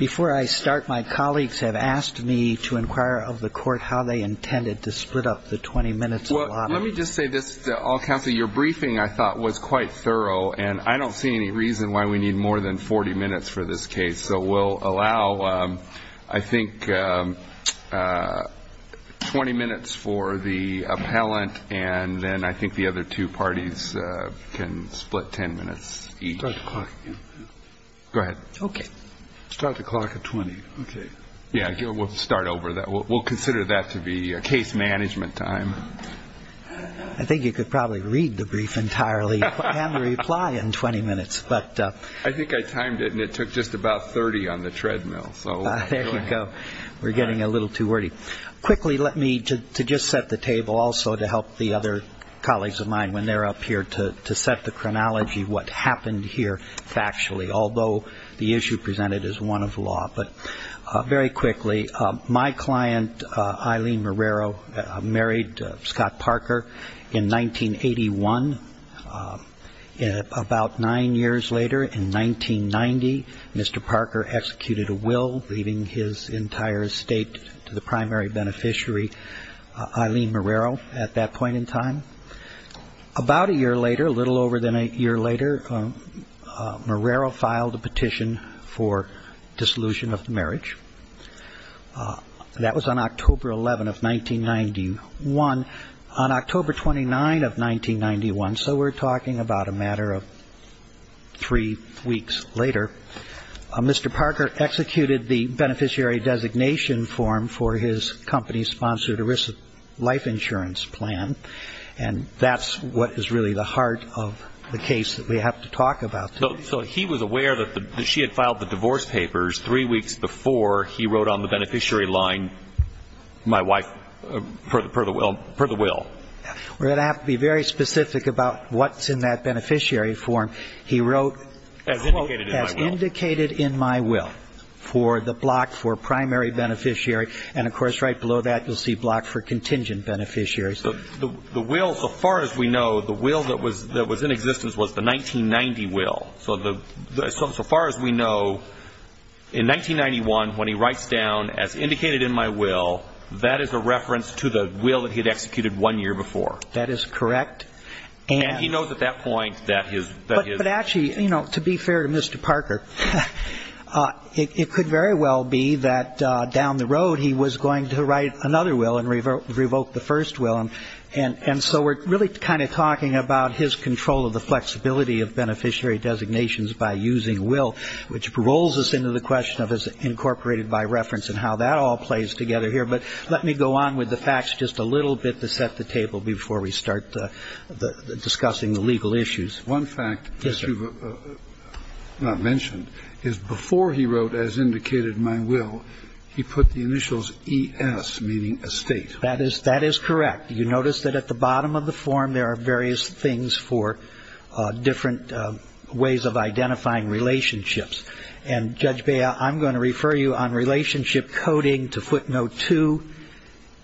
Before I start, my colleagues have asked me to inquire of the Court how they intended to split up the 20 minutes allotted. Well, let me just say this to all counsel. Your briefing, I thought, was quite thorough, and I don't see any reason why we need more than 40 minutes for this case. So we'll allow, I think, 20 minutes for the appellant, and then I think the other two parties can split 10 minutes each. Start the clock again. Go ahead. Okay. Start the clock at 20. Okay. Yeah, we'll start over. We'll consider that to be case management time. I think you could probably read the brief entirely and reply in 20 minutes. I think I timed it, and it took just about 30 on the treadmill. There you go. We're getting a little too wordy. Quickly, let me just set the table also to help the other colleagues of mine when they're up here to set the chronology of what happened here factually, although the issue presented is one of law. But very quickly, my client, Eileen Marrero, married Scott Parker in 1981. About nine years later, in 1990, Mr. Parker executed a will, leaving his entire estate to the primary beneficiary, Eileen Marrero, at that point in time. About a year later, a little over a year later, Marrero filed a petition for dissolution of the marriage. That was on October 11 of 1991. On October 29 of 1991, so we're talking about a matter of three weeks later, Mr. Parker executed the beneficiary designation form for his company-sponsored ERISA life insurance plan, and that's what is really the heart of the case that we have to talk about today. So he was aware that she had filed the divorce papers three weeks before he wrote on the beneficiary line, my wife, per the will. We're going to have to be very specific about what's in that beneficiary form. He wrote, quote, as indicated in my will, for the block for primary beneficiary, and of course right below that you'll see block for contingent beneficiary. So the will, so far as we know, the will that was in existence was the 1990 will. So far as we know, in 1991, when he writes down as indicated in my will, that is a reference to the will that he had executed one year before. That is correct. And he knows at that point that his ---- But actually, you know, to be fair to Mr. Parker, it could very well be that down the road he was going to write another will and revoke the first will. And so we're really kind of talking about his control of the flexibility of beneficiary designations by using will, which rolls us into the question of is it incorporated by reference and how that all plays together here. But let me go on with the facts just a little bit to set the table before we start discussing the legal issues. One fact that you've not mentioned is before he wrote as indicated in my will, he put the initials ES, meaning estate. That is correct. You notice that at the bottom of the form there are various things for different ways of identifying relationships. And, Judge Bea, I'm going to refer you on relationship coding to footnote two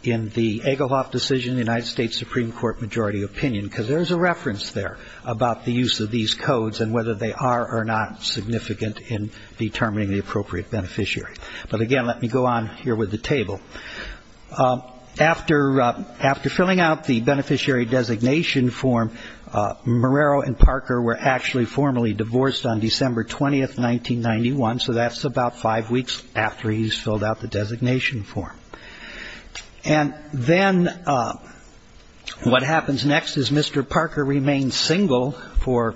in the Egelhoff decision, the United States Supreme Court majority opinion, because there's a reference there about the use of these codes and whether they are or not significant in determining the appropriate beneficiary. But, again, let me go on here with the table. After filling out the beneficiary designation form, Marrero and Parker were actually formally divorced on December 20th, 1991. So that's about five weeks after he's filled out the designation form. And then what happens next is Mr. Parker remains single for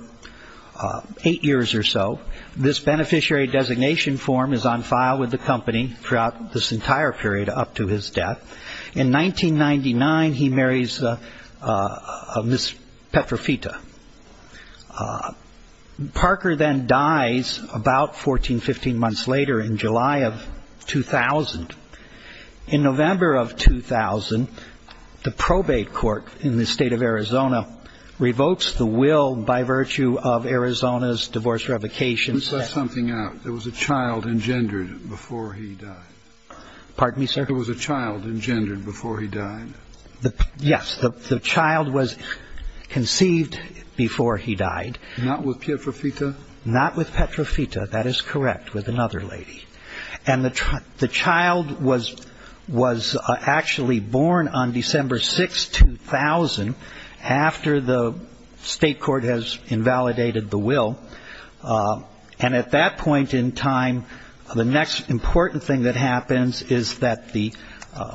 eight years or so. This beneficiary designation form is on file with the company throughout this entire period up to his death. In 1999, he marries Miss Petrofita. Parker then dies about 14, 15 months later in July of 2000. In November of 2000, the probate court in the state of Arizona revokes the will by virtue of Arizona's divorce revocation. Let me stress something out. There was a child engendered before he died. Pardon me, sir? There was a child engendered before he died. Yes. The child was conceived before he died. Not with Petrofita? Not with Petrofita. That is correct, with another lady. And the child was actually born on December 6, 2000, after the state court has invalidated the will. And at that point in time, the next important thing that happens is that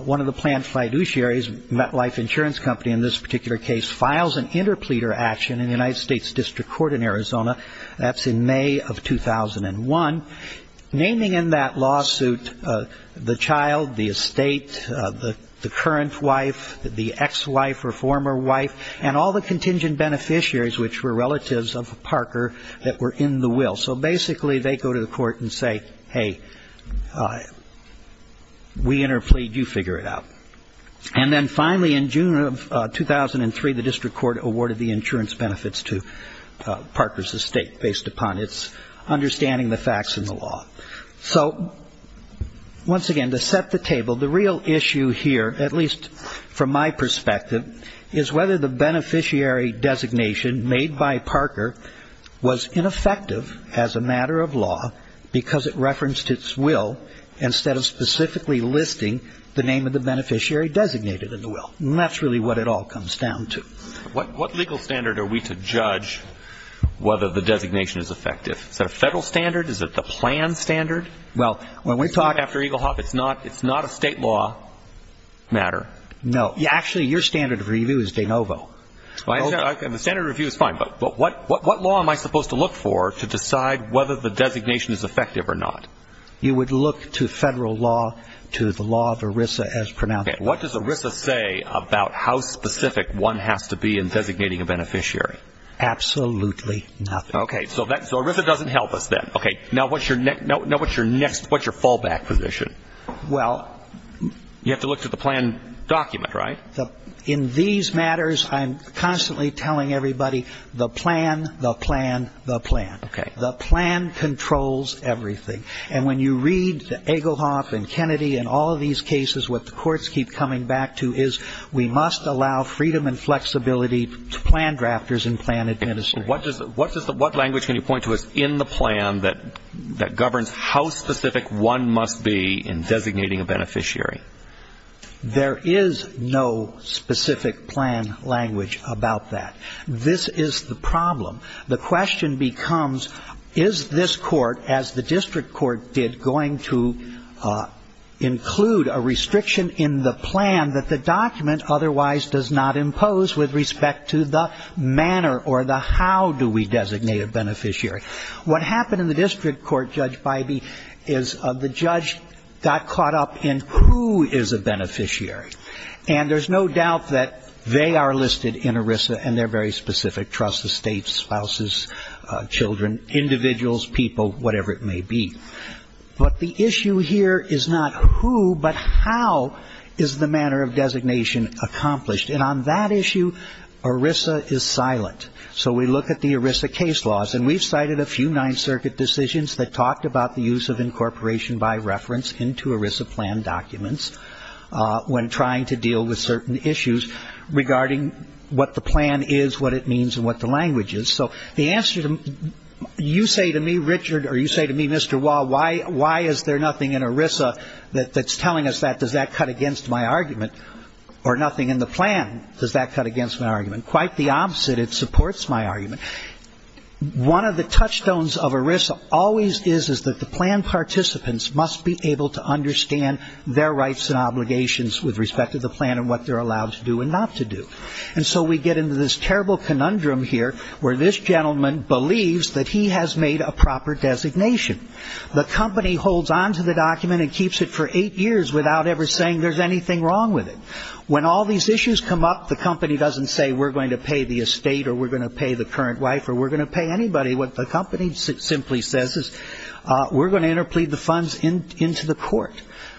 one of the planned fiduciaries, MetLife Insurance Company, in this particular case, files an interpleader action in the United States District Court in Arizona. That's in May of 2001. Naming in that lawsuit the child, the estate, the current wife, the ex-wife or former wife, and all the contingent beneficiaries, which were relatives of Parker, that were in the will. So basically they go to the court and say, hey, we interplead, you figure it out. And then finally in June of 2003, the district court awarded the insurance benefits to Parker's estate, based upon its understanding of the facts and the law. So once again, to set the table, the real issue here, at least from my perspective, is whether the beneficiary designation made by Parker was ineffective as a matter of law because it referenced its will instead of specifically listing the name of the beneficiary designated in the will. And that's really what it all comes down to. What legal standard are we to judge whether the designation is effective? Is that a federal standard? Is it the plan standard? Well, when we talk after Eagle Hop, it's not a state law matter. No. Actually, your standard of review is de novo. The standard of review is fine. But what law am I supposed to look for to decide whether the designation is effective or not? You would look to federal law, to the law of ERISA as pronounced. What does ERISA say about how specific one has to be in designating a beneficiary? Absolutely nothing. Okay. So ERISA doesn't help us then. Okay. Now what's your fallback position? Well. You have to look to the plan document, right? In these matters, I'm constantly telling everybody the plan, the plan, the plan. The plan controls everything. And when you read the Eagle Hop and Kennedy and all of these cases, what the courts keep coming back to is we must allow freedom and flexibility to plan drafters and plan administrators. And what language can you point to in the plan that governs how specific one must be in designating a beneficiary? There is no specific plan language about that. This is the problem. The question becomes, is this court, as the district court did, going to include a restriction in the plan that the document otherwise does not impose with respect to the manner or the how do we designate a beneficiary? What happened in the district court, Judge Bybee, is the judge got caught up in who is a beneficiary. And there's no doubt that they are listed in ERISA, and they're very specific, trusts, estates, spouses, children, individuals, people, whatever it may be. But the issue here is not who, but how is the manner of designation accomplished? And on that issue, ERISA is silent. So we look at the ERISA case laws, and we've cited a few Ninth Circuit decisions that talked about the use of incorporation by reference into ERISA plan documents when trying to deal with certain issues regarding what the plan is, what it means, and what the language is. So the answer to you say to me, Richard, or you say to me, Mr. Wah, why is there nothing in ERISA that's telling us that? Does that cut against my argument? Or nothing in the plan, does that cut against my argument? Quite the opposite, it supports my argument. One of the touchstones of ERISA always is that the plan participants must be able to understand their rights and obligations with respect to the plan and what they're allowed to do and not to do. And so we get into this terrible conundrum here where this gentleman believes that he has made a proper designation. The company holds on to the document and keeps it for eight years without ever saying there's anything wrong with it. When all these issues come up, the company doesn't say we're going to pay the estate or we're going to pay the current wife or we're going to pay anybody. What the company simply says is we're going to interplead the funds into the court.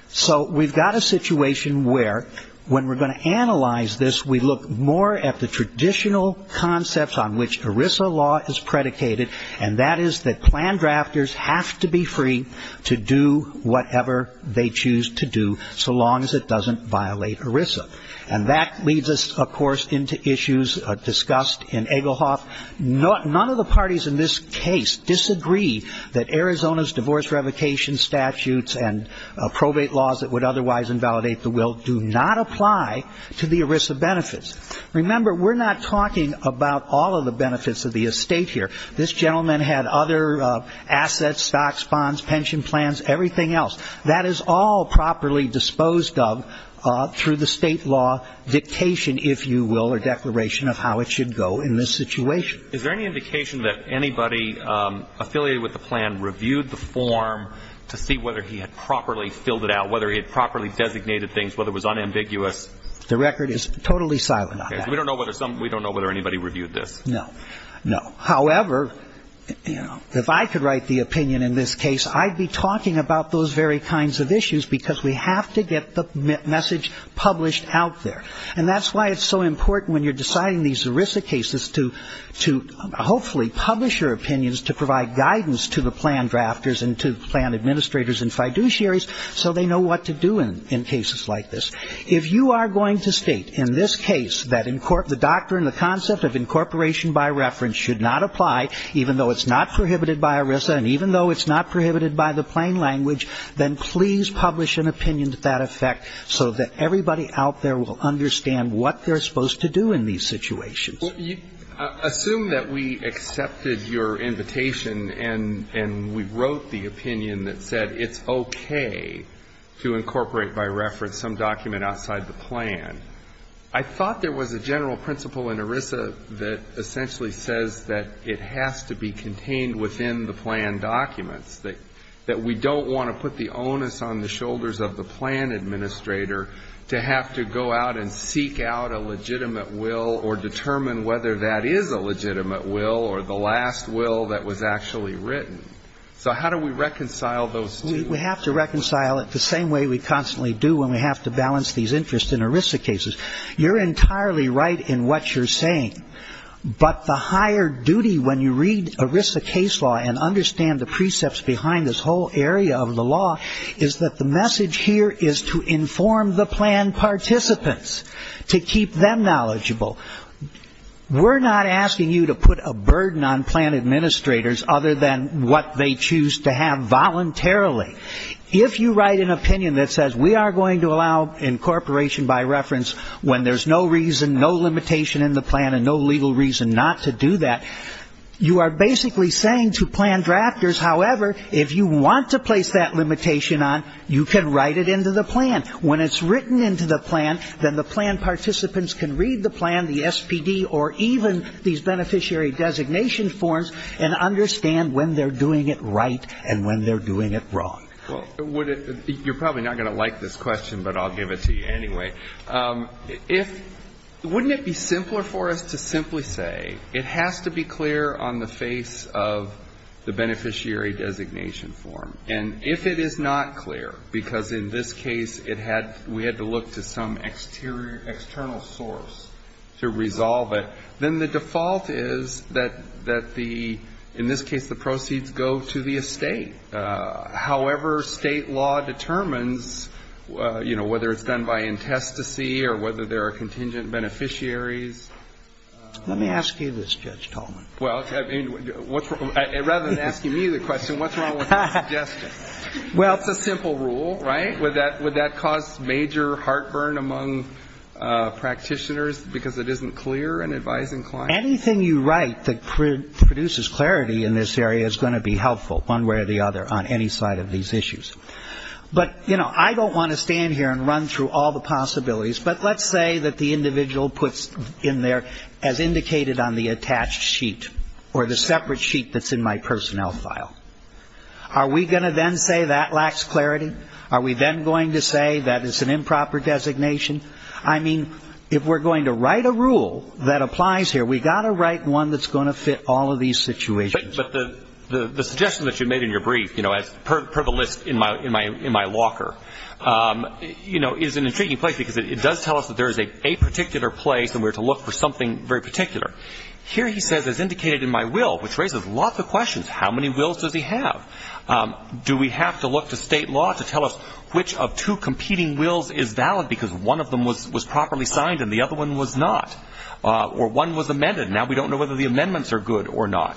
So we've got a situation where when we're going to analyze this, we look more at the traditional concepts on which ERISA law is predicated, and that is that plan drafters have to be free to do whatever they choose to do so long as it doesn't violate ERISA. And that leads us, of course, into issues discussed in Egelhoff. None of the parties in this case disagree that Arizona's divorce revocation statutes and probate laws that would otherwise invalidate the will do not apply to the ERISA benefits. Remember, we're not talking about all of the benefits of the estate here. This gentleman had other assets, stocks, bonds, pension plans, everything else. That is all properly disposed of through the state law dictation, if you will, or declaration of how it should go in this situation. Is there any indication that anybody affiliated with the plan reviewed the form to see whether he had properly filled it out, whether he had properly designated things, whether it was unambiguous? The record is totally silent on that. We don't know whether anybody reviewed this. No, no. However, you know, if I could write the opinion in this case, I'd be talking about those very kinds of issues because we have to get the message published out there. And that's why it's so important when you're deciding these ERISA cases to hopefully publish your opinions to provide guidance to the plan drafters and to the plan administrators and fiduciaries so they know what to do in cases like this. If you are going to state in this case that the doctrine, the concept of incorporation by reference, should not apply even though it's not prohibited by ERISA and even though it's not prohibited by the plain language, then please publish an opinion to that effect so that everybody out there will understand what they're supposed to do in these situations. Assume that we accepted your invitation and we wrote the opinion that said it's okay to incorporate by reference some document outside the plan. I thought there was a general principle in ERISA that essentially says that it has to be contained within the plan documents, that we don't want to put the onus on the shoulders of the plan administrator to have to go out and seek out a legitimate will or determine whether that is a legitimate will or the last will that was actually written. So how do we reconcile those two? We have to reconcile it the same way we constantly do when we have to balance these interests in ERISA cases. You're entirely right in what you're saying, but the higher duty when you read ERISA case law and understand the precepts behind this whole area of the law is that the message here is to inform the plan participants, to keep them knowledgeable. We're not asking you to put a burden on plan administrators other than what they choose to have voluntarily. If you write an opinion that says we are going to allow incorporation by reference when there's no reason, no limitation in the plan and no legal reason not to do that, you are basically saying to plan drafters, however, if you want to place that limitation on, you can write it into the plan. When it's written into the plan, then the plan participants can read the plan, the SPD, or even these beneficiary designation forms and understand when they're doing it right and when they're doing it wrong. You're probably not going to like this question, but I'll give it to you anyway. Wouldn't it be simpler for us to simply say it has to be clear on the face of the beneficiary designation form? And if it is not clear, because in this case it had, we had to look to some external source to resolve it, then the default is that the, in this case, the proceeds go to the estate. However, State law determines, you know, whether it's done by intestacy or whether there are contingent beneficiaries. Let me ask you this, Judge Tolman. Well, rather than asking me the question, what's wrong with that suggestion? It's a simple rule, right? Would that cause major heartburn among practitioners because it isn't clear in advising clients? Anything you write that produces clarity in this area is going to be helpful, one way or the other, on any side of these issues. But, you know, I don't want to stand here and run through all the possibilities, but let's say that the individual puts in there, as indicated on the attached sheet or the separate sheet that's in my personnel file. Are we going to then say that lacks clarity? Are we then going to say that it's an improper designation? I mean, if we're going to write a rule that applies here, we've got to write one that's going to fit all of these situations. But the suggestion that you made in your brief, you know, per the list in my locker, you know, is an intriguing place because it does tell us that there is a particular place and we're to look for something very particular. Here he says, as indicated in my will, which raises lots of questions. How many wills does he have? Do we have to look to state law to tell us which of two competing wills is valid because one of them was properly signed and the other one was not? Or one was amended and now we don't know whether the amendments are good or not.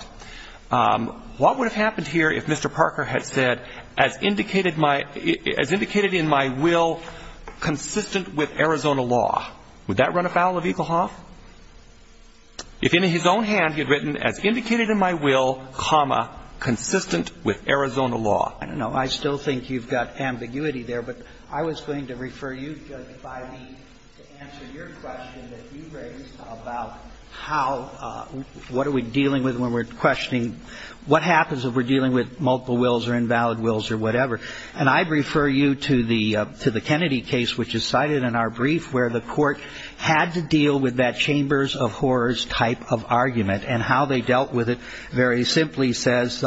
What would have happened here if Mr. Parker had said, as indicated in my will, consistent with Arizona law? Would that run afoul of Egelhoff? If in his own hand he had written, as indicated in my will, comma, consistent with Arizona law? I don't know. I still think you've got ambiguity there. But I was going to refer you, Justice Breyer, to answer your question that you raised about how, what are we dealing with when we're questioning, what happens if we're dealing with multiple wills or invalid wills or whatever. And I refer you to the Kennedy case, which is cited in our brief, where the court had to deal with that chambers of horrors type of argument and how they dealt with it very simply says,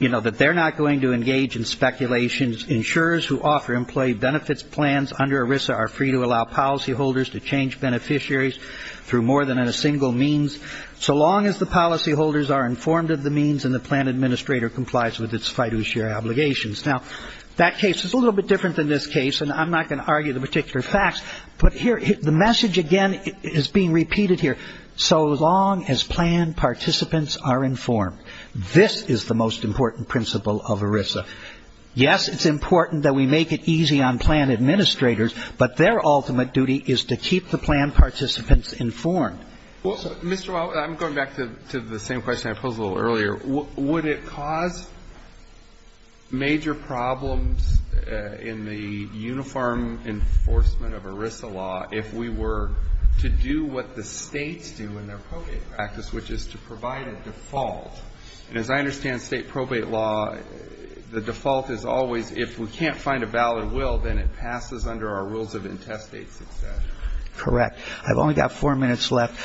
you know, that they're not going to engage in speculations. Insurers who offer employee benefits plans under ERISA are free to allow policyholders to change beneficiaries through more than a single means, so long as the policyholders are informed of the means and the plan administrator complies with its fiduciary obligations. Now, that case is a little bit different than this case, and I'm not going to argue the particular facts. But here, the message, again, is being repeated here. So long as plan participants are informed. This is the most important principle of ERISA. Yes, it's important that we make it easy on plan administrators, but their ultimate duty is to keep the plan participants informed. Well, Mr. Wall, I'm going back to the same question I posed a little earlier. Would it cause major problems in the uniform enforcement of ERISA law if we were to do what the States do in their probate practice, which is to provide a default? And as I understand State probate law, the default is always if we can't find a valid will, then it passes under our rules of intestate succession. Correct. I've only got four minutes left.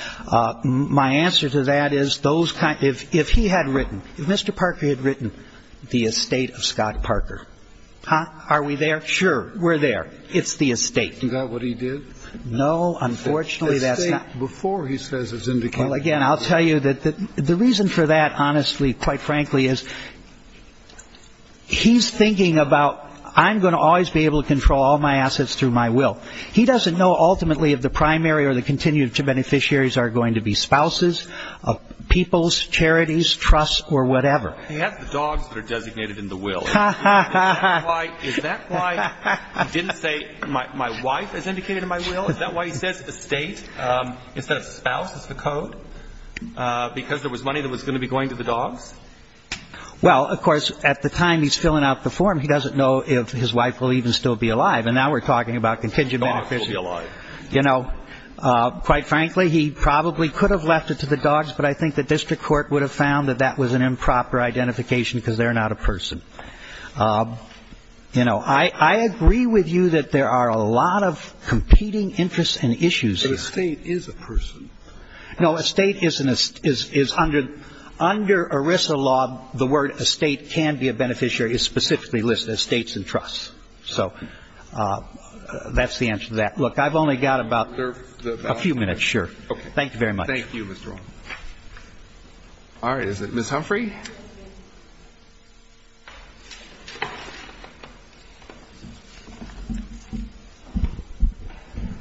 My answer to that is, if he had written, if Mr. Parker had written, the estate of Scott Parker, are we there? Sure. We're there. It's the estate. Is that what he did? No. Unfortunately, that's not. The estate before, he says, is indicated. Well, again, I'll tell you that the reason for that, honestly, quite frankly, is he's thinking about I'm going to always be able to control all my assets through my will. He doesn't know ultimately if the primary or the continued beneficiaries are going to be spouses, peoples, charities, trusts, or whatever. He has the dogs that are designated in the will. Is that why he didn't say my wife is indicated in my will? Is that why he says estate instead of spouse is the code? Because there was money that was going to be going to the dogs? Well, of course, at the time he's filling out the form, he doesn't know if his wife will even still be alive. And now we're talking about contingent beneficiaries. You know, quite frankly, he probably could have left it to the dogs, but I think the district court would have found that that was an improper identification because they're not a person. You know, I agree with you that there are a lot of competing interests and issues here. The estate is a person. No, estate is under ERISA law. The word estate can be a beneficiary is specifically listed as states and trusts. So that's the answer to that. Look, I've only got about a few minutes. Sure. Thank you very much. Thank you, Mr. Arnold. All right. Is it Ms. Humphrey?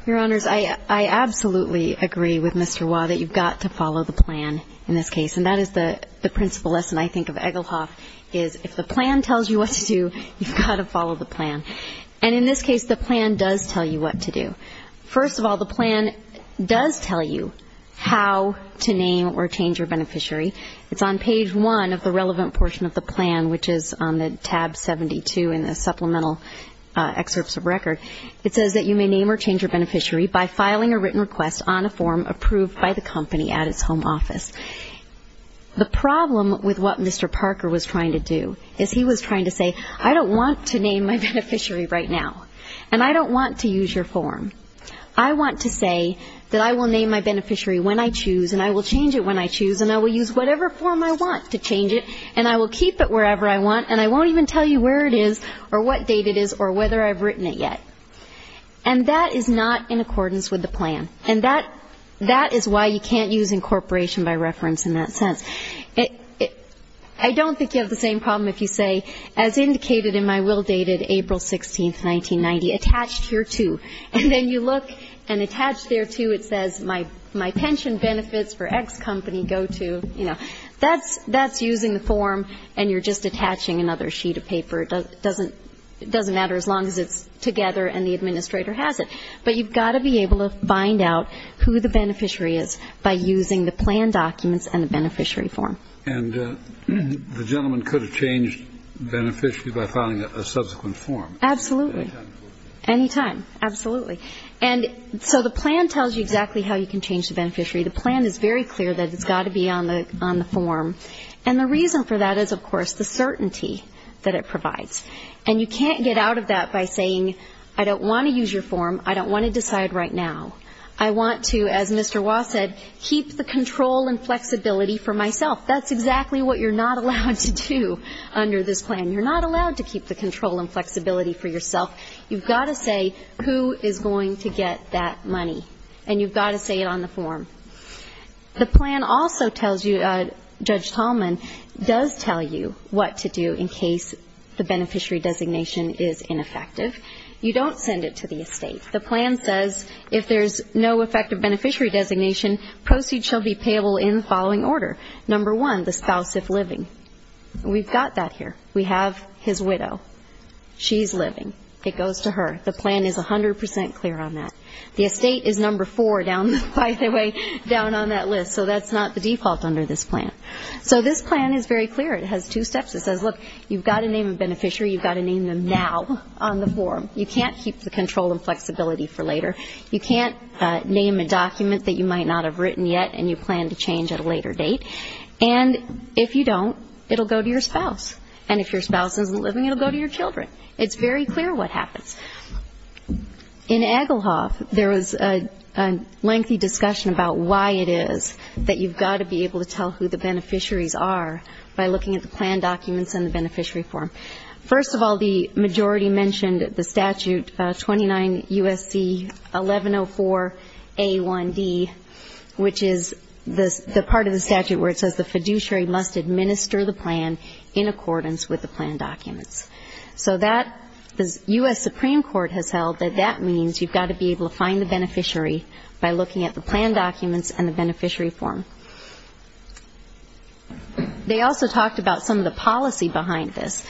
Your Honors, I absolutely agree with Mr. Wah that you've got to follow the plan in this case. And that is the principal lesson I think of Egelhoff is if the plan tells you what to do, you've got to follow the plan. And in this case, the plan does tell you what to do. First of all, the plan does tell you how to name or change your beneficiary. It's on page one of the relevant portion of the plan, which is on the tab 72 in the supplemental excerpts of record. It says that you may name or change your beneficiary by filing a written request on a form approved by the company at its home office. The problem with what Mr. Parker was trying to do is he was trying to say, I don't want to name my beneficiary right now, and I don't want to use your form. I want to say that I will name my beneficiary when I choose, and I will change it when I choose, and I will use whatever form I want to change it, and I will keep it wherever I want, and I won't even tell you where it is or what date it is or whether I've written it yet. And that is not in accordance with the plan. And that is why you can't use incorporation by reference in that sense. I don't think you have the same problem if you say, as indicated in my will dated April 16, 1990, attached here too. And then you look and attached there too, it says, my pension benefits for X company go to, you know, that's using the form and you're just attaching another sheet of paper. It doesn't matter as long as it's together and the administrator has it. But you've got to be able to find out who the beneficiary is by using the plan documents and the beneficiary form. And the gentleman could have changed beneficiary by filing a subsequent form. Absolutely. Any time. Absolutely. And so the plan tells you exactly how you can change the beneficiary. The plan is very clear that it's got to be on the form. And the reason for that is, of course, the certainty that it provides. And you can't get out of that by saying, I don't want to use your form. I don't want to decide right now. I want to, as Mr. Wah said, keep the control and flexibility for myself. That's exactly what you're not allowed to do under this plan. You're not allowed to keep the control and flexibility for yourself. You've got to say who is going to get that money. And you've got to say it on the form. The plan also tells you, Judge Tallman does tell you what to do in case the beneficiary designation is ineffective. You don't send it to the estate. The plan says if there's no effective beneficiary designation, proceeds shall be payable in the following order. Number one, the spouse if living. We've got that here. We have his widow. She's living. It goes to her. The plan is 100 percent clear on that. The estate is number four, by the way, down on that list. So that's not the default under this plan. So this plan is very clear. It has two steps. It says, look, you've got to name a beneficiary. You've got to name them now on the form. You can't keep the control and flexibility for later. You can't name a document that you might not have written yet and you plan to change at a later date. And if you don't, it will go to your spouse. And if your spouse isn't living, it will go to your children. It's very clear what happens. In Egelhoff, there was a lengthy discussion about why it is that you've got to be able to tell who the beneficiaries are by looking at the plan documents and the beneficiary form. First of all, the majority mentioned the statute 29 U.S.C. 1104 A1D, which is the part of the statute where it says the fiduciary must administer the plan in accordance with the plan documents. So the U.S. Supreme Court has held that that means you've got to be able to find the beneficiary by looking at the plan documents and the beneficiary form. They also talked about some of the policy behind this.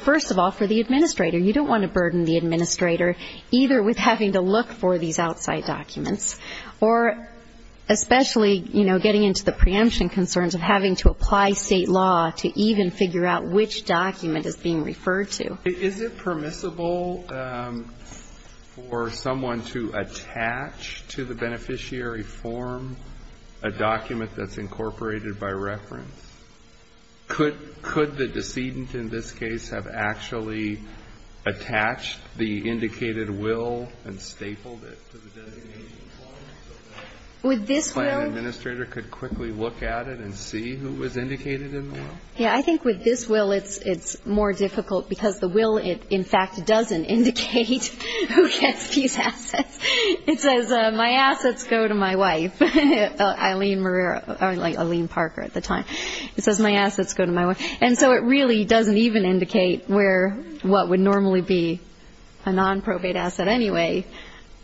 First of all, for the administrator, you don't want to burden the administrator, either with having to look for these outside documents or especially, you know, getting into the preemption concerns of having to apply state law to even figure out which document is being referred to. Is it permissible for someone to attach to the beneficiary form a document that's incorporated by reference? Could the decedent in this case have actually attached the indicated will and stapled it to the designation form? Would this plan administrator could quickly look at it and see who was indicated in the will? Yeah, I think with this will, it's more difficult because the will, in fact, doesn't indicate who gets these assets. It says, my assets go to my wife, Eileen Parker at the time. It says, my assets go to my wife. And so it really doesn't even indicate where what would normally be a nonprobate asset anyway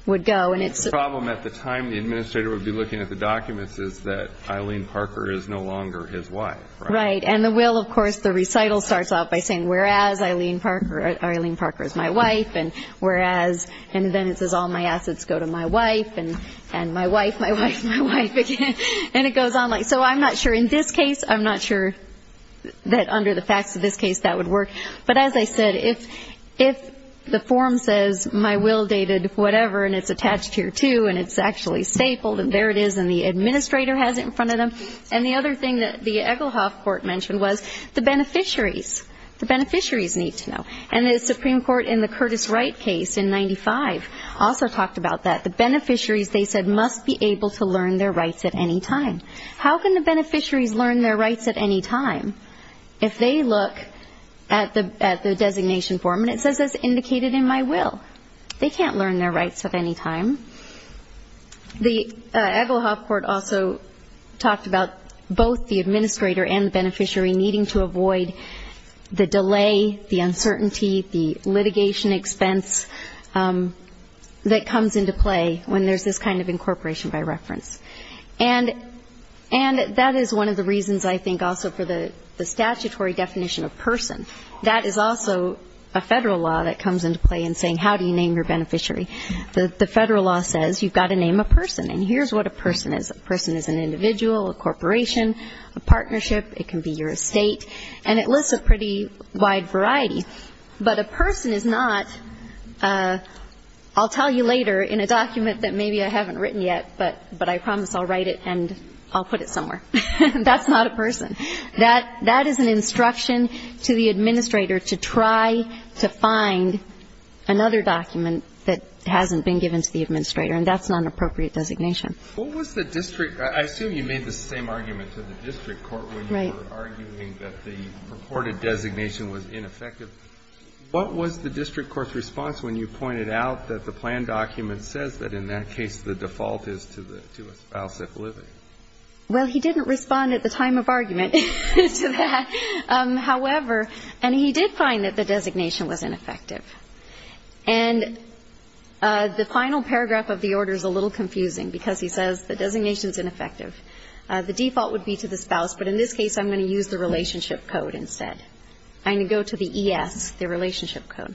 would go. The problem at the time the administrator would be looking at the documents is that Eileen Parker is no longer his wife. Right. And the will, of course, the recital starts off by saying, whereas Eileen Parker is my wife and whereas, and then it says, all my assets go to my wife and my wife, my wife, my wife again. And it goes on like that. So I'm not sure in this case, I'm not sure that under the facts of this case that would work. But as I said, if the form says my will dated whatever and it's attached here too and it's actually stapled and there it is and the administrator has it in front of them. And the other thing that the Egelhoff Court mentioned was the beneficiaries. The beneficiaries need to know. And the Supreme Court in the Curtis Wright case in 95 also talked about that. The beneficiaries, they said, must be able to learn their rights at any time. How can the beneficiaries learn their rights at any time? If they look at the designation form and it says it's indicated in my will. They can't learn their rights at any time. The Egelhoff Court also talked about both the administrator and the beneficiary needing to avoid the delay, the uncertainty, the litigation expense that comes into play when there's this kind of incorporation by reference. And that is one of the reasons I think also for the statutory definition of person. That is also a federal law that comes into play in saying how do you name your beneficiary. The federal law says you've got to name a person. And here's what a person is. A person is an individual, a corporation, a partnership. It can be your estate. And it lists a pretty wide variety. But a person is not, I'll tell you later, in a document that maybe I haven't written yet, but I promise I'll write it and I'll put it somewhere. That's not a person. That is an instruction to the administrator to try to find another document that hasn't been given to the administrator. And that's not an appropriate designation. What was the district? I assume you made the same argument to the district court when you were arguing that the purported designation was ineffective. What was the district court's response when you pointed out that the plan document says that in that case the default is to a spouse that's living? Well, he didn't respond at the time of argument to that. However, and he did find that the designation was ineffective. And the final paragraph of the order is a little confusing because he says the designation is ineffective. The default would be to the spouse, but in this case I'm going to use the relationship code instead. I'm going to go to the ES, the relationship code.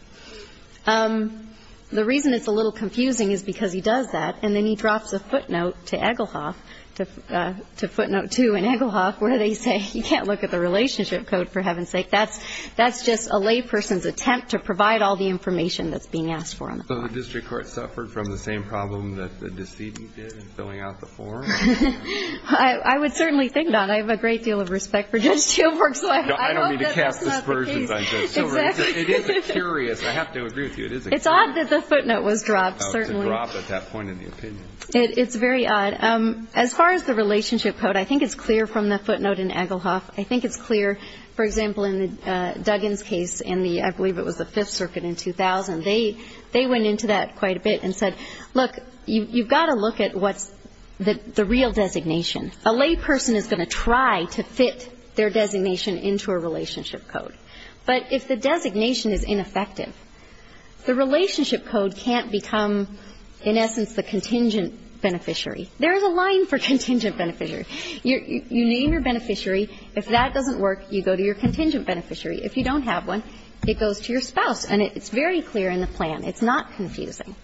The reason it's a little confusing is because he does that, and then he drops a footnote to Egelhoff, to footnote 2 in Egelhoff, where they say you can't look at the relationship code, for heaven's sake. That's just a layperson's attempt to provide all the information that's being asked for. So the district court suffered from the same problem that the decedent did in filling out the form? I would certainly think not. I have a great deal of respect for Judge Steelbrook. I don't mean to cast aspersions on Judge Steelbrook. It is a curious, I have to agree with you, it is a curious. It's odd that the footnote was dropped, certainly. It was dropped at that point in the opinion. It's very odd. As far as the relationship code, I think it's clear from the footnote in Egelhoff. I think it's clear, for example, in Duggan's case in the, I believe it was the Fifth Circuit in 2000, they went into that quite a bit and said, look, you've got to look at what's the real designation. A layperson is going to try to fit their designation into a relationship code. But if the designation is ineffective, the relationship code can't become, in essence, the contingent beneficiary. There is a line for contingent beneficiary. You name your beneficiary. If that doesn't work, you go to your contingent beneficiary. If you don't have one, it goes to your spouse. And it's very clear in the plan. It's not confusing.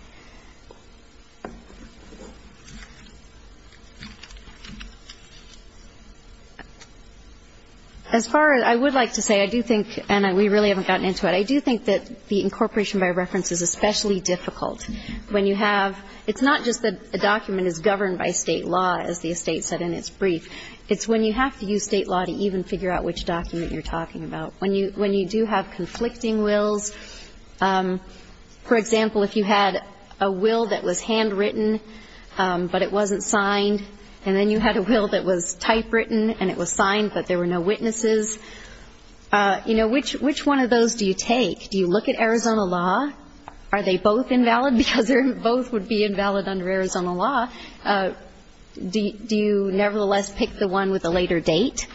As far as I would like to say, I do think, and we really haven't gotten into it, I do think that the incorporation by reference is especially difficult when you have It's not just that a document is governed by State law, as the estate said in its brief. It's when you have to use State law to even figure out which document you're talking have conflicting wills. For example, if you had a will that was handwritten, but it wasn't signed, and then you had a will that was typewritten and it was signed, but there were no witnesses, you know, which one of those do you take? Do you look at Arizona law? Are they both invalid? Because both would be invalid under Arizona law. Do you nevertheless pick the one with the later date?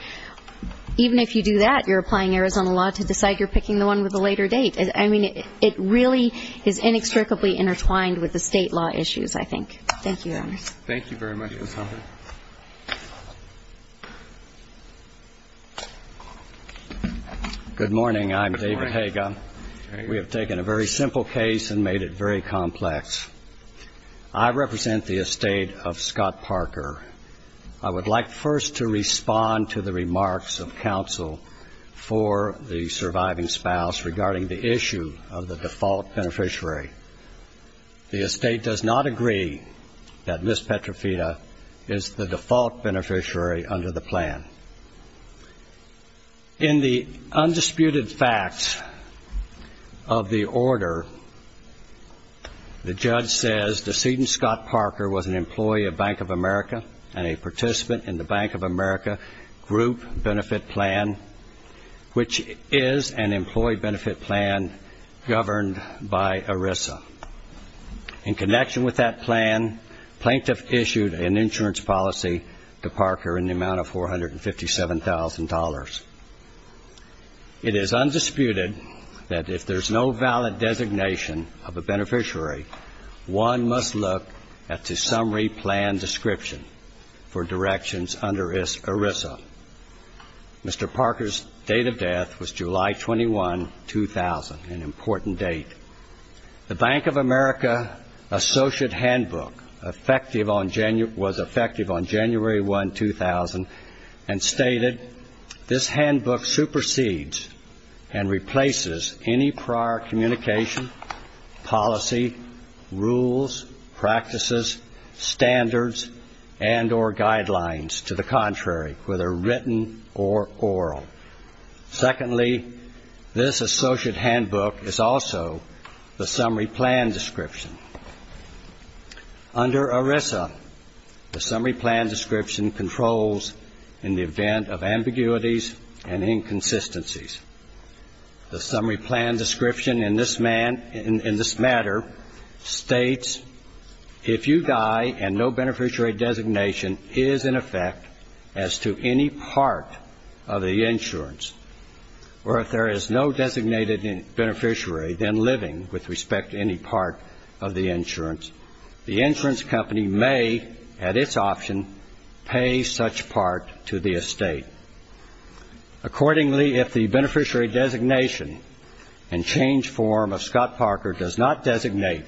Even if you do that, you're applying Arizona law to decide you're picking the one with the later date. I mean, it really is inextricably intertwined with the State law issues, I think. Thank you, Your Honor. Thank you very much, Ms. Humphrey. Good morning. I'm David Haga. We have taken a very simple case and made it very complex. I represent the estate of Scott Parker. I would like first to respond to the remarks of counsel for the surviving spouse regarding the issue of the default beneficiary. The estate does not agree that Ms. Petrofita is the default beneficiary under the plan. In the undisputed facts of the order, the judge says the decedent Scott Parker was an employee of Bank of America and a participant in the Bank of America group benefit plan, which is an employee benefit plan governed by ERISA. In connection with that plan, plaintiff issued an insurance policy to Parker in the amount of $457,000. It is undisputed that if there's no valid designation of a beneficiary, one must look at the summary plan description for directions under ERISA. Mr. Parker's date of death was July 21, 2000, an important date. The Bank of America associate handbook was effective on January 1, 2000, and stated, this handbook supersedes and replaces any prior communication, policy, rules, practices, standards, and or guidelines to the contrary, whether written or oral. Secondly, this associate handbook is also the summary plan description. Under ERISA, the summary plan description controls in the event of ambiguities and inconsistencies. The summary plan description in this matter states, if you die and no beneficiary designation is in effect as to any part of the insurance, or if there is no designated beneficiary then living with respect to any part of the insurance, the insurance company may, at its option, pay such part to the estate. Accordingly, if the beneficiary designation and change form of Scott Parker does not designate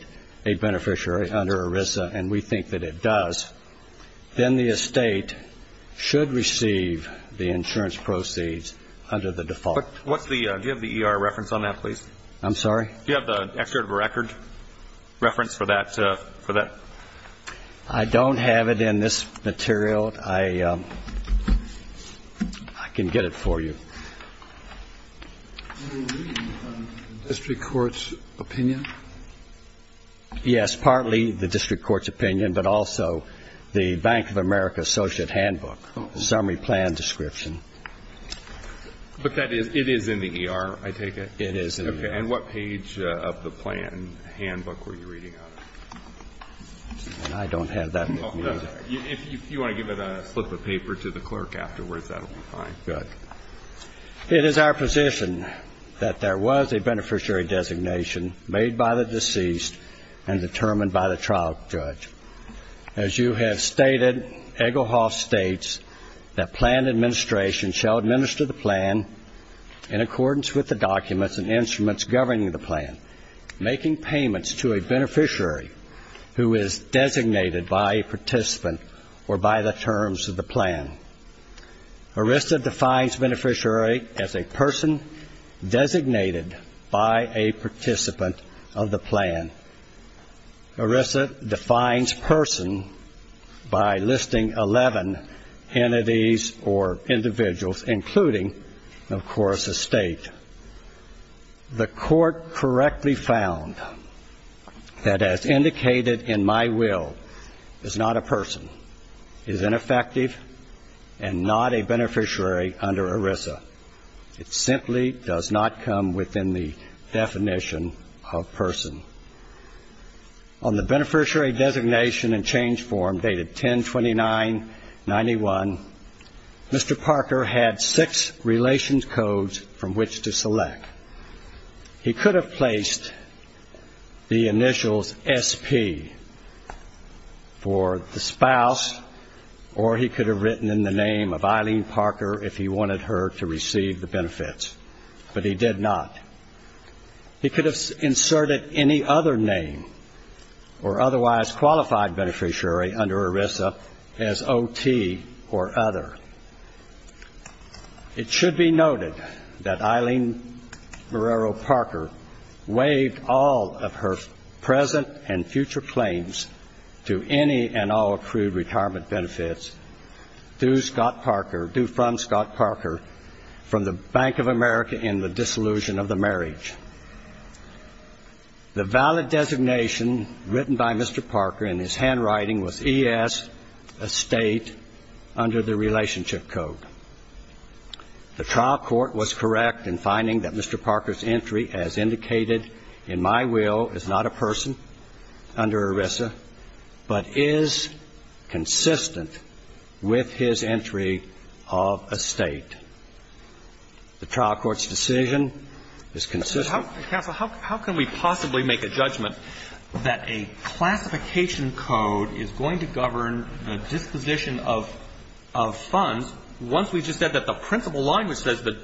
a beneficiary under ERISA, and we think that it does, then the estate should receive the insurance proceeds under the default. Do you have the ER reference on that, please? I'm sorry? Do you have the excerpt of a record reference for that? I don't have it in this material. I can get it for you. The district court's opinion? Yes, partly the district court's opinion, but also the Bank of America associate handbook summary plan description. But it is in the ER, I take it? It is in the ER. Okay, and what page of the plan handbook were you reading out of? I don't have that with me either. If you want to give it a slip of paper to the clerk afterwards, that will be fine. Good. It is our position that there was a beneficiary designation made by the deceased and determined by the trial judge. As you have stated, Egelhoff states that plan administration shall administer the plan in accordance with the documents and instruments governing the plan, making payments to a beneficiary who is designated by a participant or by the terms of the plan. ERISA defines beneficiary as a person designated by a participant of the plan. ERISA defines person by listing 11 entities or individuals, including, of course, a state. The court correctly found that, as indicated in my will, is not a person, is ineffective, and is not a person. And not a beneficiary under ERISA. It simply does not come within the definition of person. On the beneficiary designation and change form dated 10-29-91, Mr. Parker had six relations codes from which to select. He could have placed the initials SP for the spouse, or he could have written in the initials, the name of Eileen Parker if he wanted her to receive the benefits, but he did not. He could have inserted any other name or otherwise qualified beneficiary under ERISA as OT or other. It should be noted that Eileen Marrero Parker waived all of her present and future claims to any and all accrued retirement benefits, due from Scott Parker, from the Bank of America in the dissolution of the marriage. The valid designation written by Mr. Parker in his handwriting was ES, a state, under the relationship code. The trial court was correct in finding that Mr. Parker's entry, as indicated in my will, is not a person under ERISA, but is consistent with his entry of a state. The trial court's decision is consistent. Roberts. Counsel, how can we possibly make a judgment that a classification code is going to govern the disposition of funds once we just said that the principal line which says that,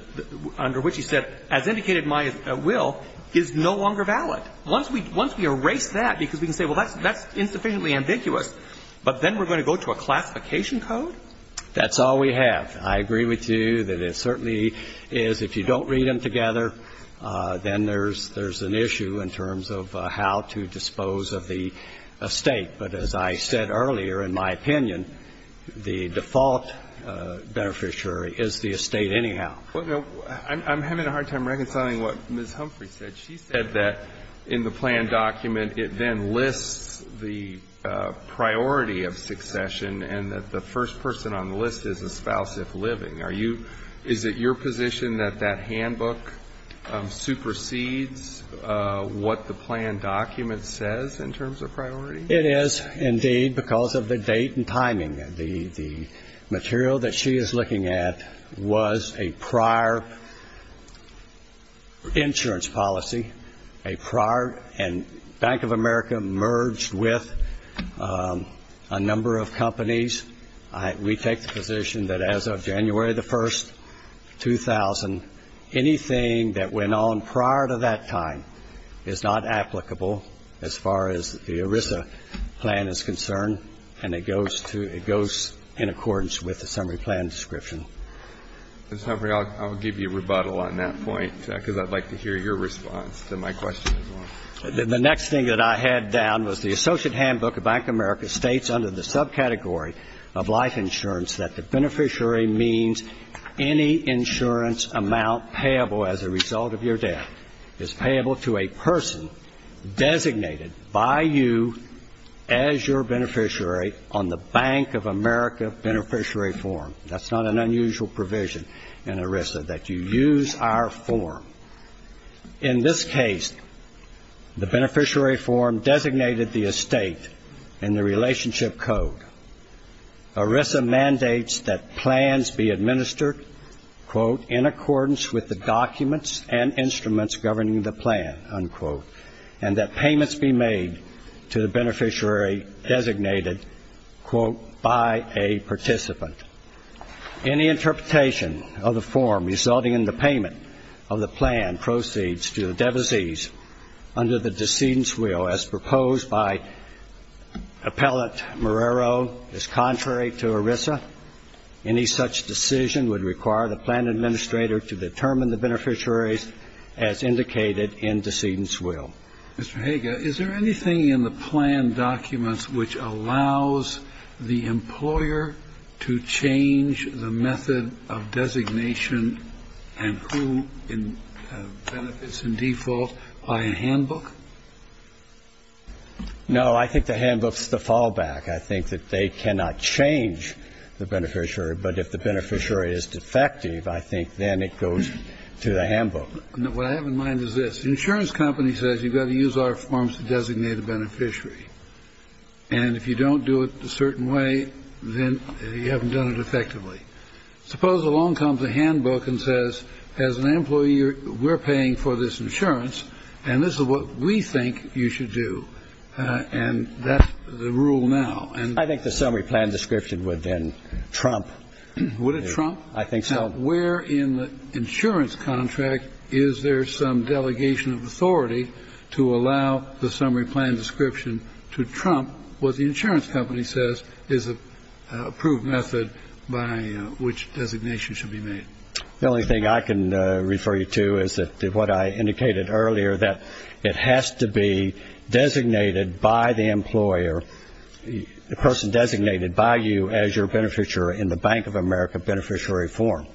under which he said, as indicated in my will, is no longer valid? Once we erase that, because we can say, well, that's insufficiently ambiguous, but then we're going to go to a classification code? That's all we have. I agree with you that it certainly is. If you don't read them together, then there's an issue in terms of how to dispose of the estate. But as I said earlier, in my opinion, the default beneficiary is the estate anyhow. Well, I'm having a hard time reconciling what Ms. Humphrey said. She said that in the plan document it then lists the priority of succession and that the first person on the list is a spouse if living. Are you ñ is it your position that that handbook supersedes what the plan document says in terms of priority? It is, indeed, because of the date and timing. The material that she is looking at was a prior insurance policy, a prior and Bank of America merged with a number of companies. We take the position that as of January the 1st, 2000, anything that went on prior to that time is not applicable as far as the ERISA plan is concerned, and it goes to ñ it goes in accordance with the summary plan description. Ms. Humphrey, I'll give you a rebuttal on that point, because I'd like to hear your response to my question as well. The next thing that I had down was the associate handbook of Bank of America states under the subcategory of life insurance that the beneficiary means any insurance amount payable as a result of your death is payable to a person designated by you as your beneficiary on the Bank of America beneficiary form. That's not an unusual provision in ERISA, that you use our form. In this case, the beneficiary form designated the estate in the relationship code. ERISA mandates that plans be administered, quote, in accordance with the documents and instruments governing the plan, unquote, and that payments be made to the beneficiary designated, quote, by a participant. Any interpretation of the form resulting in the payment of the plan proceeds to the devisees under the decedent's will as proposed by Appellant Marrero is contrary to ERISA. Any such decision would require the plan administrator to determine the beneficiaries as indicated in decedent's will. Mr. Hager, is there anything in the plan documents which allows the employer to change the method of designation and who benefits in default by a handbook? No, I think the handbook's the fallback. I think that they cannot change the beneficiary, but if the beneficiary is defective, I think then it goes to the handbook. What I have in mind is this. The insurance company says you've got to use our forms to designate a beneficiary, and if you don't do it a certain way, then you haven't done it effectively. Suppose along comes a handbook and says, as an employee, we're paying for this insurance, and this is what we think you should do, and that's the rule now. I think the summary plan description would then trump. Would it trump? I think so. Now, where in the insurance contract is there some delegation of authority to allow the summary plan description to trump what the insurance company says is an approved method by which designation should be made? The only thing I can refer you to is what I indicated earlier, that it has to be designated by the employer, the person designated by you as your beneficiary in the Bank of America beneficiary form,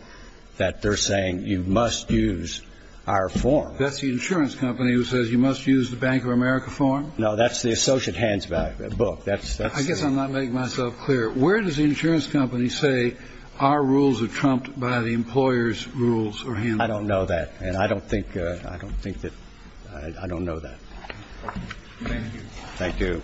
that they're saying you must use our form. That's the insurance company who says you must use the Bank of America form? No, that's the associate handbook. That's the one. I guess I'm not making myself clear. Where does the insurance company say our rules are trumped by the employer's rules or handbook? I don't know that, and I don't think that – I don't know that. Thank you. Thank you.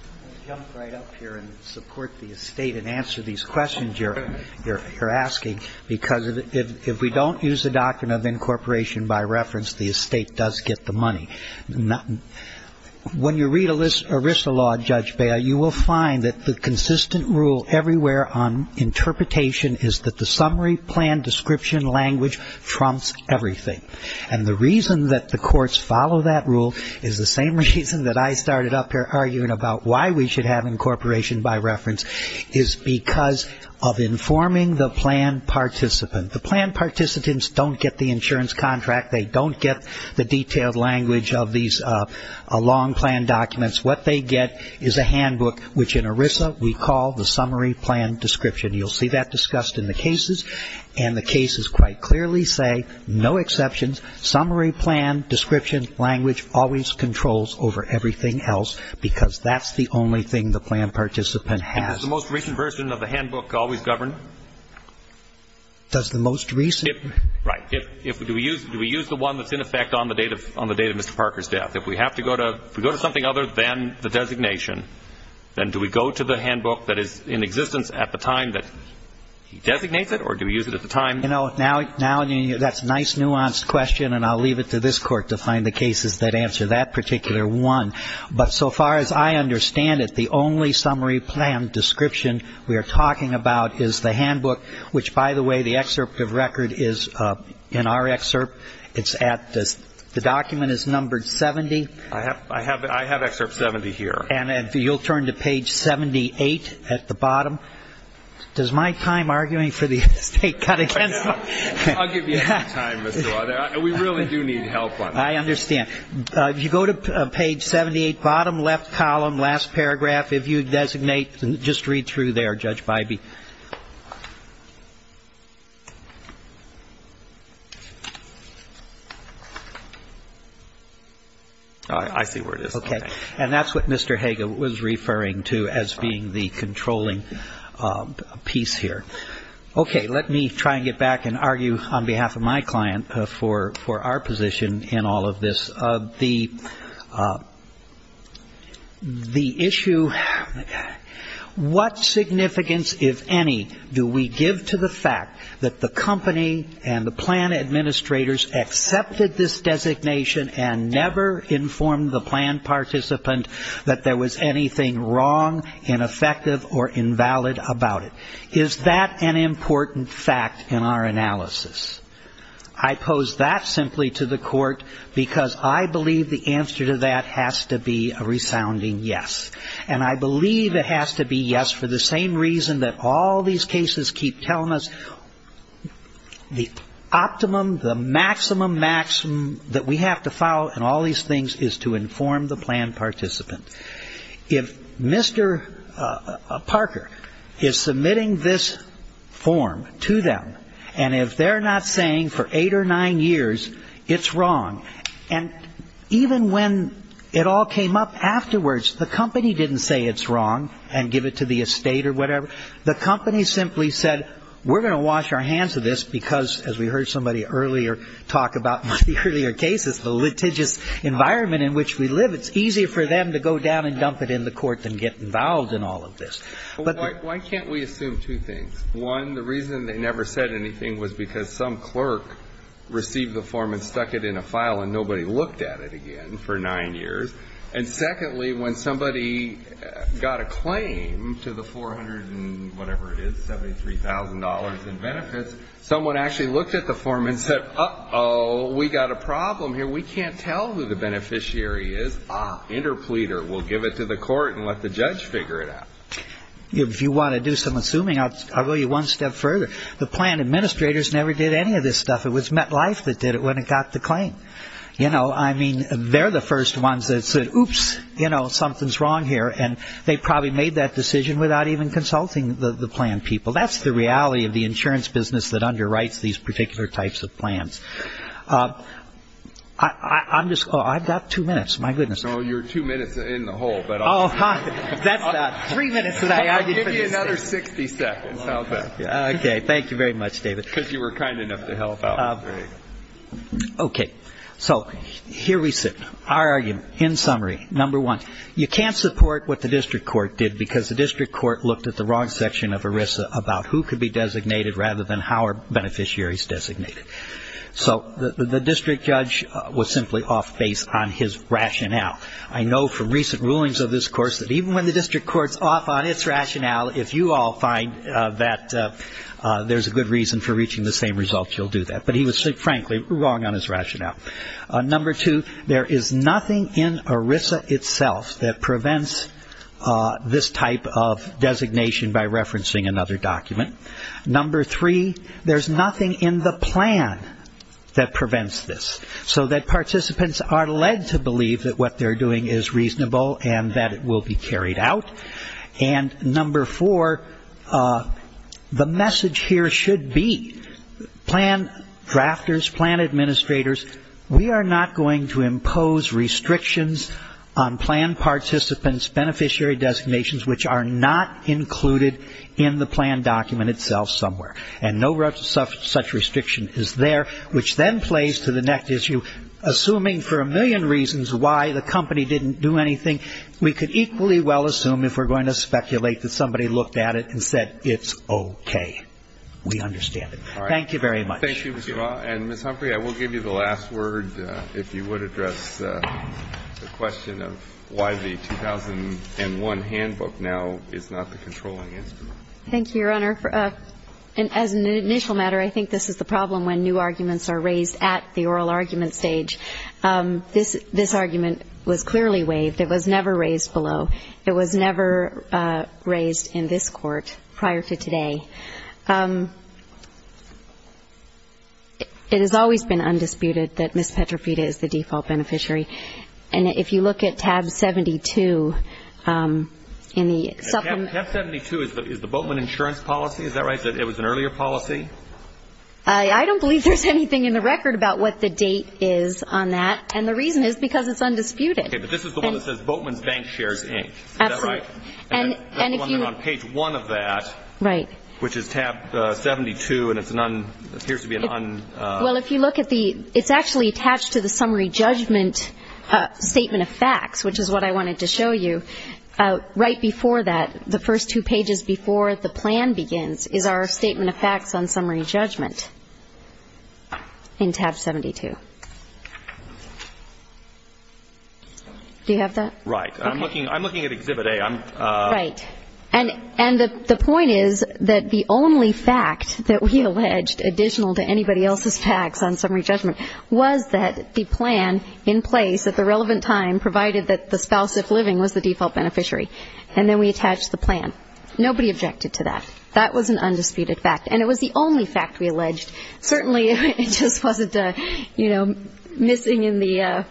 I'll jump right up here and support the estate and answer these questions you're asking, because if we don't use the doctrine of incorporation by reference, the estate does get the money. When you read ERISA law, Judge Bea, you will find that the consistent rule everywhere on interpretation is that the summary plan description language trumps everything. And the reason that the courts follow that rule is the same reason that I started up here arguing about why we should have incorporation by reference is because of informing the plan participant. The plan participants don't get the insurance contract. They don't get the detailed language of these long plan documents. What they get is a handbook, which in ERISA we call the summary plan description. You'll see that discussed in the cases, and the cases quite clearly say no exceptions. Summary plan description language always controls over everything else because that's the only thing the plan participant has. And does the most recent version of the handbook always govern? Does the most recent? Right. Do we use the one that's in effect on the date of Mr. Parker's death? If we have to go to – if we go to something other than the designation, then do we go to the handbook that is in existence at the time that he designates it, or do we use it at the time? You know, now that's a nice nuanced question, and I'll leave it to this Court to find the cases that answer that particular one. But so far as I understand it, the only summary plan description we are talking about is the handbook, which, by the way, the excerpt of record is in our excerpt. It's at – the document is numbered 70. I have excerpt 70 here. And you'll turn to page 78 at the bottom. Does my time arguing for the estate cut against my – I'll give you some time, Mr. Lauder. We really do need help on this. I understand. If you go to page 78, bottom left column, last paragraph, if you designate, just read through there, Judge Bybee. I see where it is. Okay. And that's what Mr. Hager was referring to as being the controlling piece here. Okay. Let me try and get back and argue on behalf of my client for our position in all of this. The issue – what significance, if any, do we give to the fact that the company and the plan administrators accepted this designation and never informed the plan participant that there was anything wrong, ineffective, or invalid about it? Is that an important fact in our analysis? I pose that simply to the court because I believe the answer to that has to be a resounding yes. And I believe it has to be yes for the same reason that all these cases keep telling us the optimum, the maximum that we have to follow in all these things is to inform the plan participant. If Mr. Parker is submitting this form to them and if they're not saying for eight or nine years it's wrong, and even when it all came up afterwards, the company didn't say it's wrong and give it to the estate or whatever. The company simply said we're going to wash our hands of this because, as we heard somebody earlier talk about in the earlier cases, the litigious environment in which we live. It's easier for them to go down and dump it in the court than get involved in all of this. But why can't we assume two things? One, the reason they never said anything was because some clerk received the form and stuck it in a file and nobody looked at it again for nine years. And secondly, when somebody got a claim to the $473,000 in benefits, someone actually looked at the form and said, uh-oh, we've got a problem here. We can't tell who the beneficiary is. Interpleader, we'll give it to the court and let the judge figure it out. If you want to do some assuming, I'll go you one step further. The plan administrators never did any of this stuff. It was MetLife that did it when it got the claim. I mean, they're the first ones that said, oops, something's wrong here, and they probably made that decision without even consulting the plan people. That's the reality of the insurance business that underwrites these particular types of plans. I've got two minutes. My goodness. So you're two minutes in the hole. That's three minutes that I argued for this thing. I'll give you another 60 seconds. Okay. Thank you very much, David. Because you were kind enough to help out. Okay. So here we sit. Our argument, in summary, number one, you can't support what the district court did because the district court looked at the wrong section of ERISA about who could be designated rather than how are beneficiaries designated. So the district judge was simply off base on his rationale. I know from recent rulings of this course that even when the district court's off on its rationale, if you all find that there's a good reason for reaching the same results, you'll do that. But he was, frankly, wrong on his rationale. Number two, there is nothing in ERISA itself that prevents this type of designation by referencing another document. Number three, there's nothing in the plan that prevents this. So that participants are led to believe that what they're doing is reasonable and that it will be carried out. And number four, the message here should be plan drafters, plan administrators, we are not going to impose restrictions on plan participants' beneficiary designations which are not included in the plan document itself somewhere. And no such restriction is there, which then plays to the next issue. Assuming for a million reasons why the company didn't do anything, we could equally well assume if we're going to speculate that somebody looked at it and said it's okay. We understand it. Thank you very much. Thank you, Mr. Barr. And Ms. Humphrey, I will give you the last word if you would address the question Thank you, Your Honor. As an initial matter, I think this is the problem when new arguments are raised at the oral argument stage. This argument was clearly waived. It was never raised below. It was never raised in this court prior to today. It has always been undisputed that Ms. Petrofita is the default beneficiary. And if you look at tab 72 in the supplement Tab 72 is the Boatman insurance policy. Is that right? It was an earlier policy? I don't believe there's anything in the record about what the date is on that. And the reason is because it's undisputed. Okay, but this is the one that says Boatman's Bank Shares, Inc. Is that right? And if you That's the one that's on page one of that. Right. Which is tab 72, and it appears to be an undisputed Well, if you look at the It's actually attached to the summary judgment statement of facts, which is what I wanted to show you. Right before that, the first two pages before the plan begins, is our statement of facts on summary judgment in tab 72. Do you have that? Right. I'm looking at exhibit A. Right. And the point is that the only fact that we alleged additional to anybody else's facts on summary judgment was that the plan in place at the relevant time provided that the spouse, if living, was the default beneficiary. And then we attached the plan. Nobody objected to that. That was an undisputed fact. And it was the only fact we alleged. Certainly, it just wasn't, you know, missing in the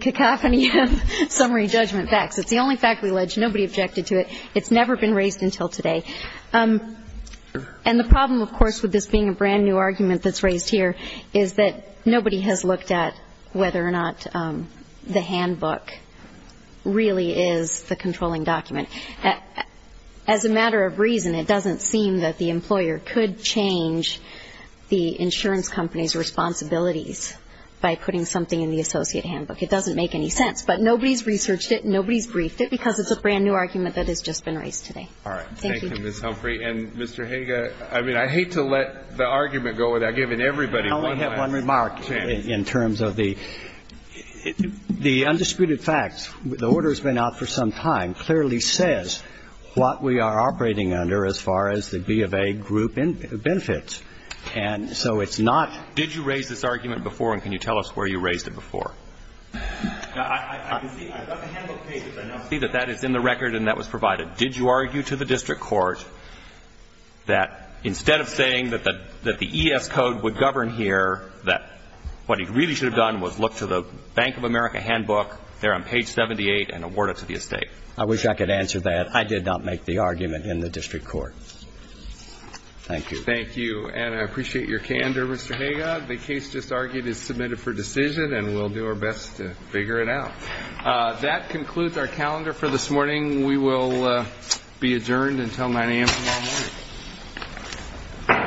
cacophony of summary judgment facts. It's the only fact we alleged. Nobody objected to it. It's never been raised until today. And the problem, of course, with this being a brand-new argument that's raised here is that nobody has looked at whether or not the handbook really is the controlling document. As a matter of reason, it doesn't seem that the employer could change the insurance company's responsibilities by putting something in the associate handbook. It doesn't make any sense. But nobody's researched it. Nobody's briefed it because it's a brand-new argument that has just been raised today. All right. Thank you, Ms. Humphrey. And, Mr. Hager, I mean, I hate to let the argument go without giving everybody a chance. I can only have one remark in terms of the undisputed facts. The order's been out for some time. It clearly says what we are operating under as far as the B of A group benefits. And so it's not – Did you raise this argument before, and can you tell us where you raised it before? I can see – I've got the handbook pages. I can see that that is in the record and that was provided. Did you argue to the district court that instead of saying that the ES code would govern here, that what he really should have done was look to the Bank of America handbook there on page 78 and award it to the estate? I wish I could answer that. I did not make the argument in the district court. Thank you. Thank you. And I appreciate your candor, Mr. Hager. The case just argued is submitted for decision, and we'll do our best to figure it out. That concludes our calendar for this morning. We will be adjourned until 9 a.m. tomorrow morning.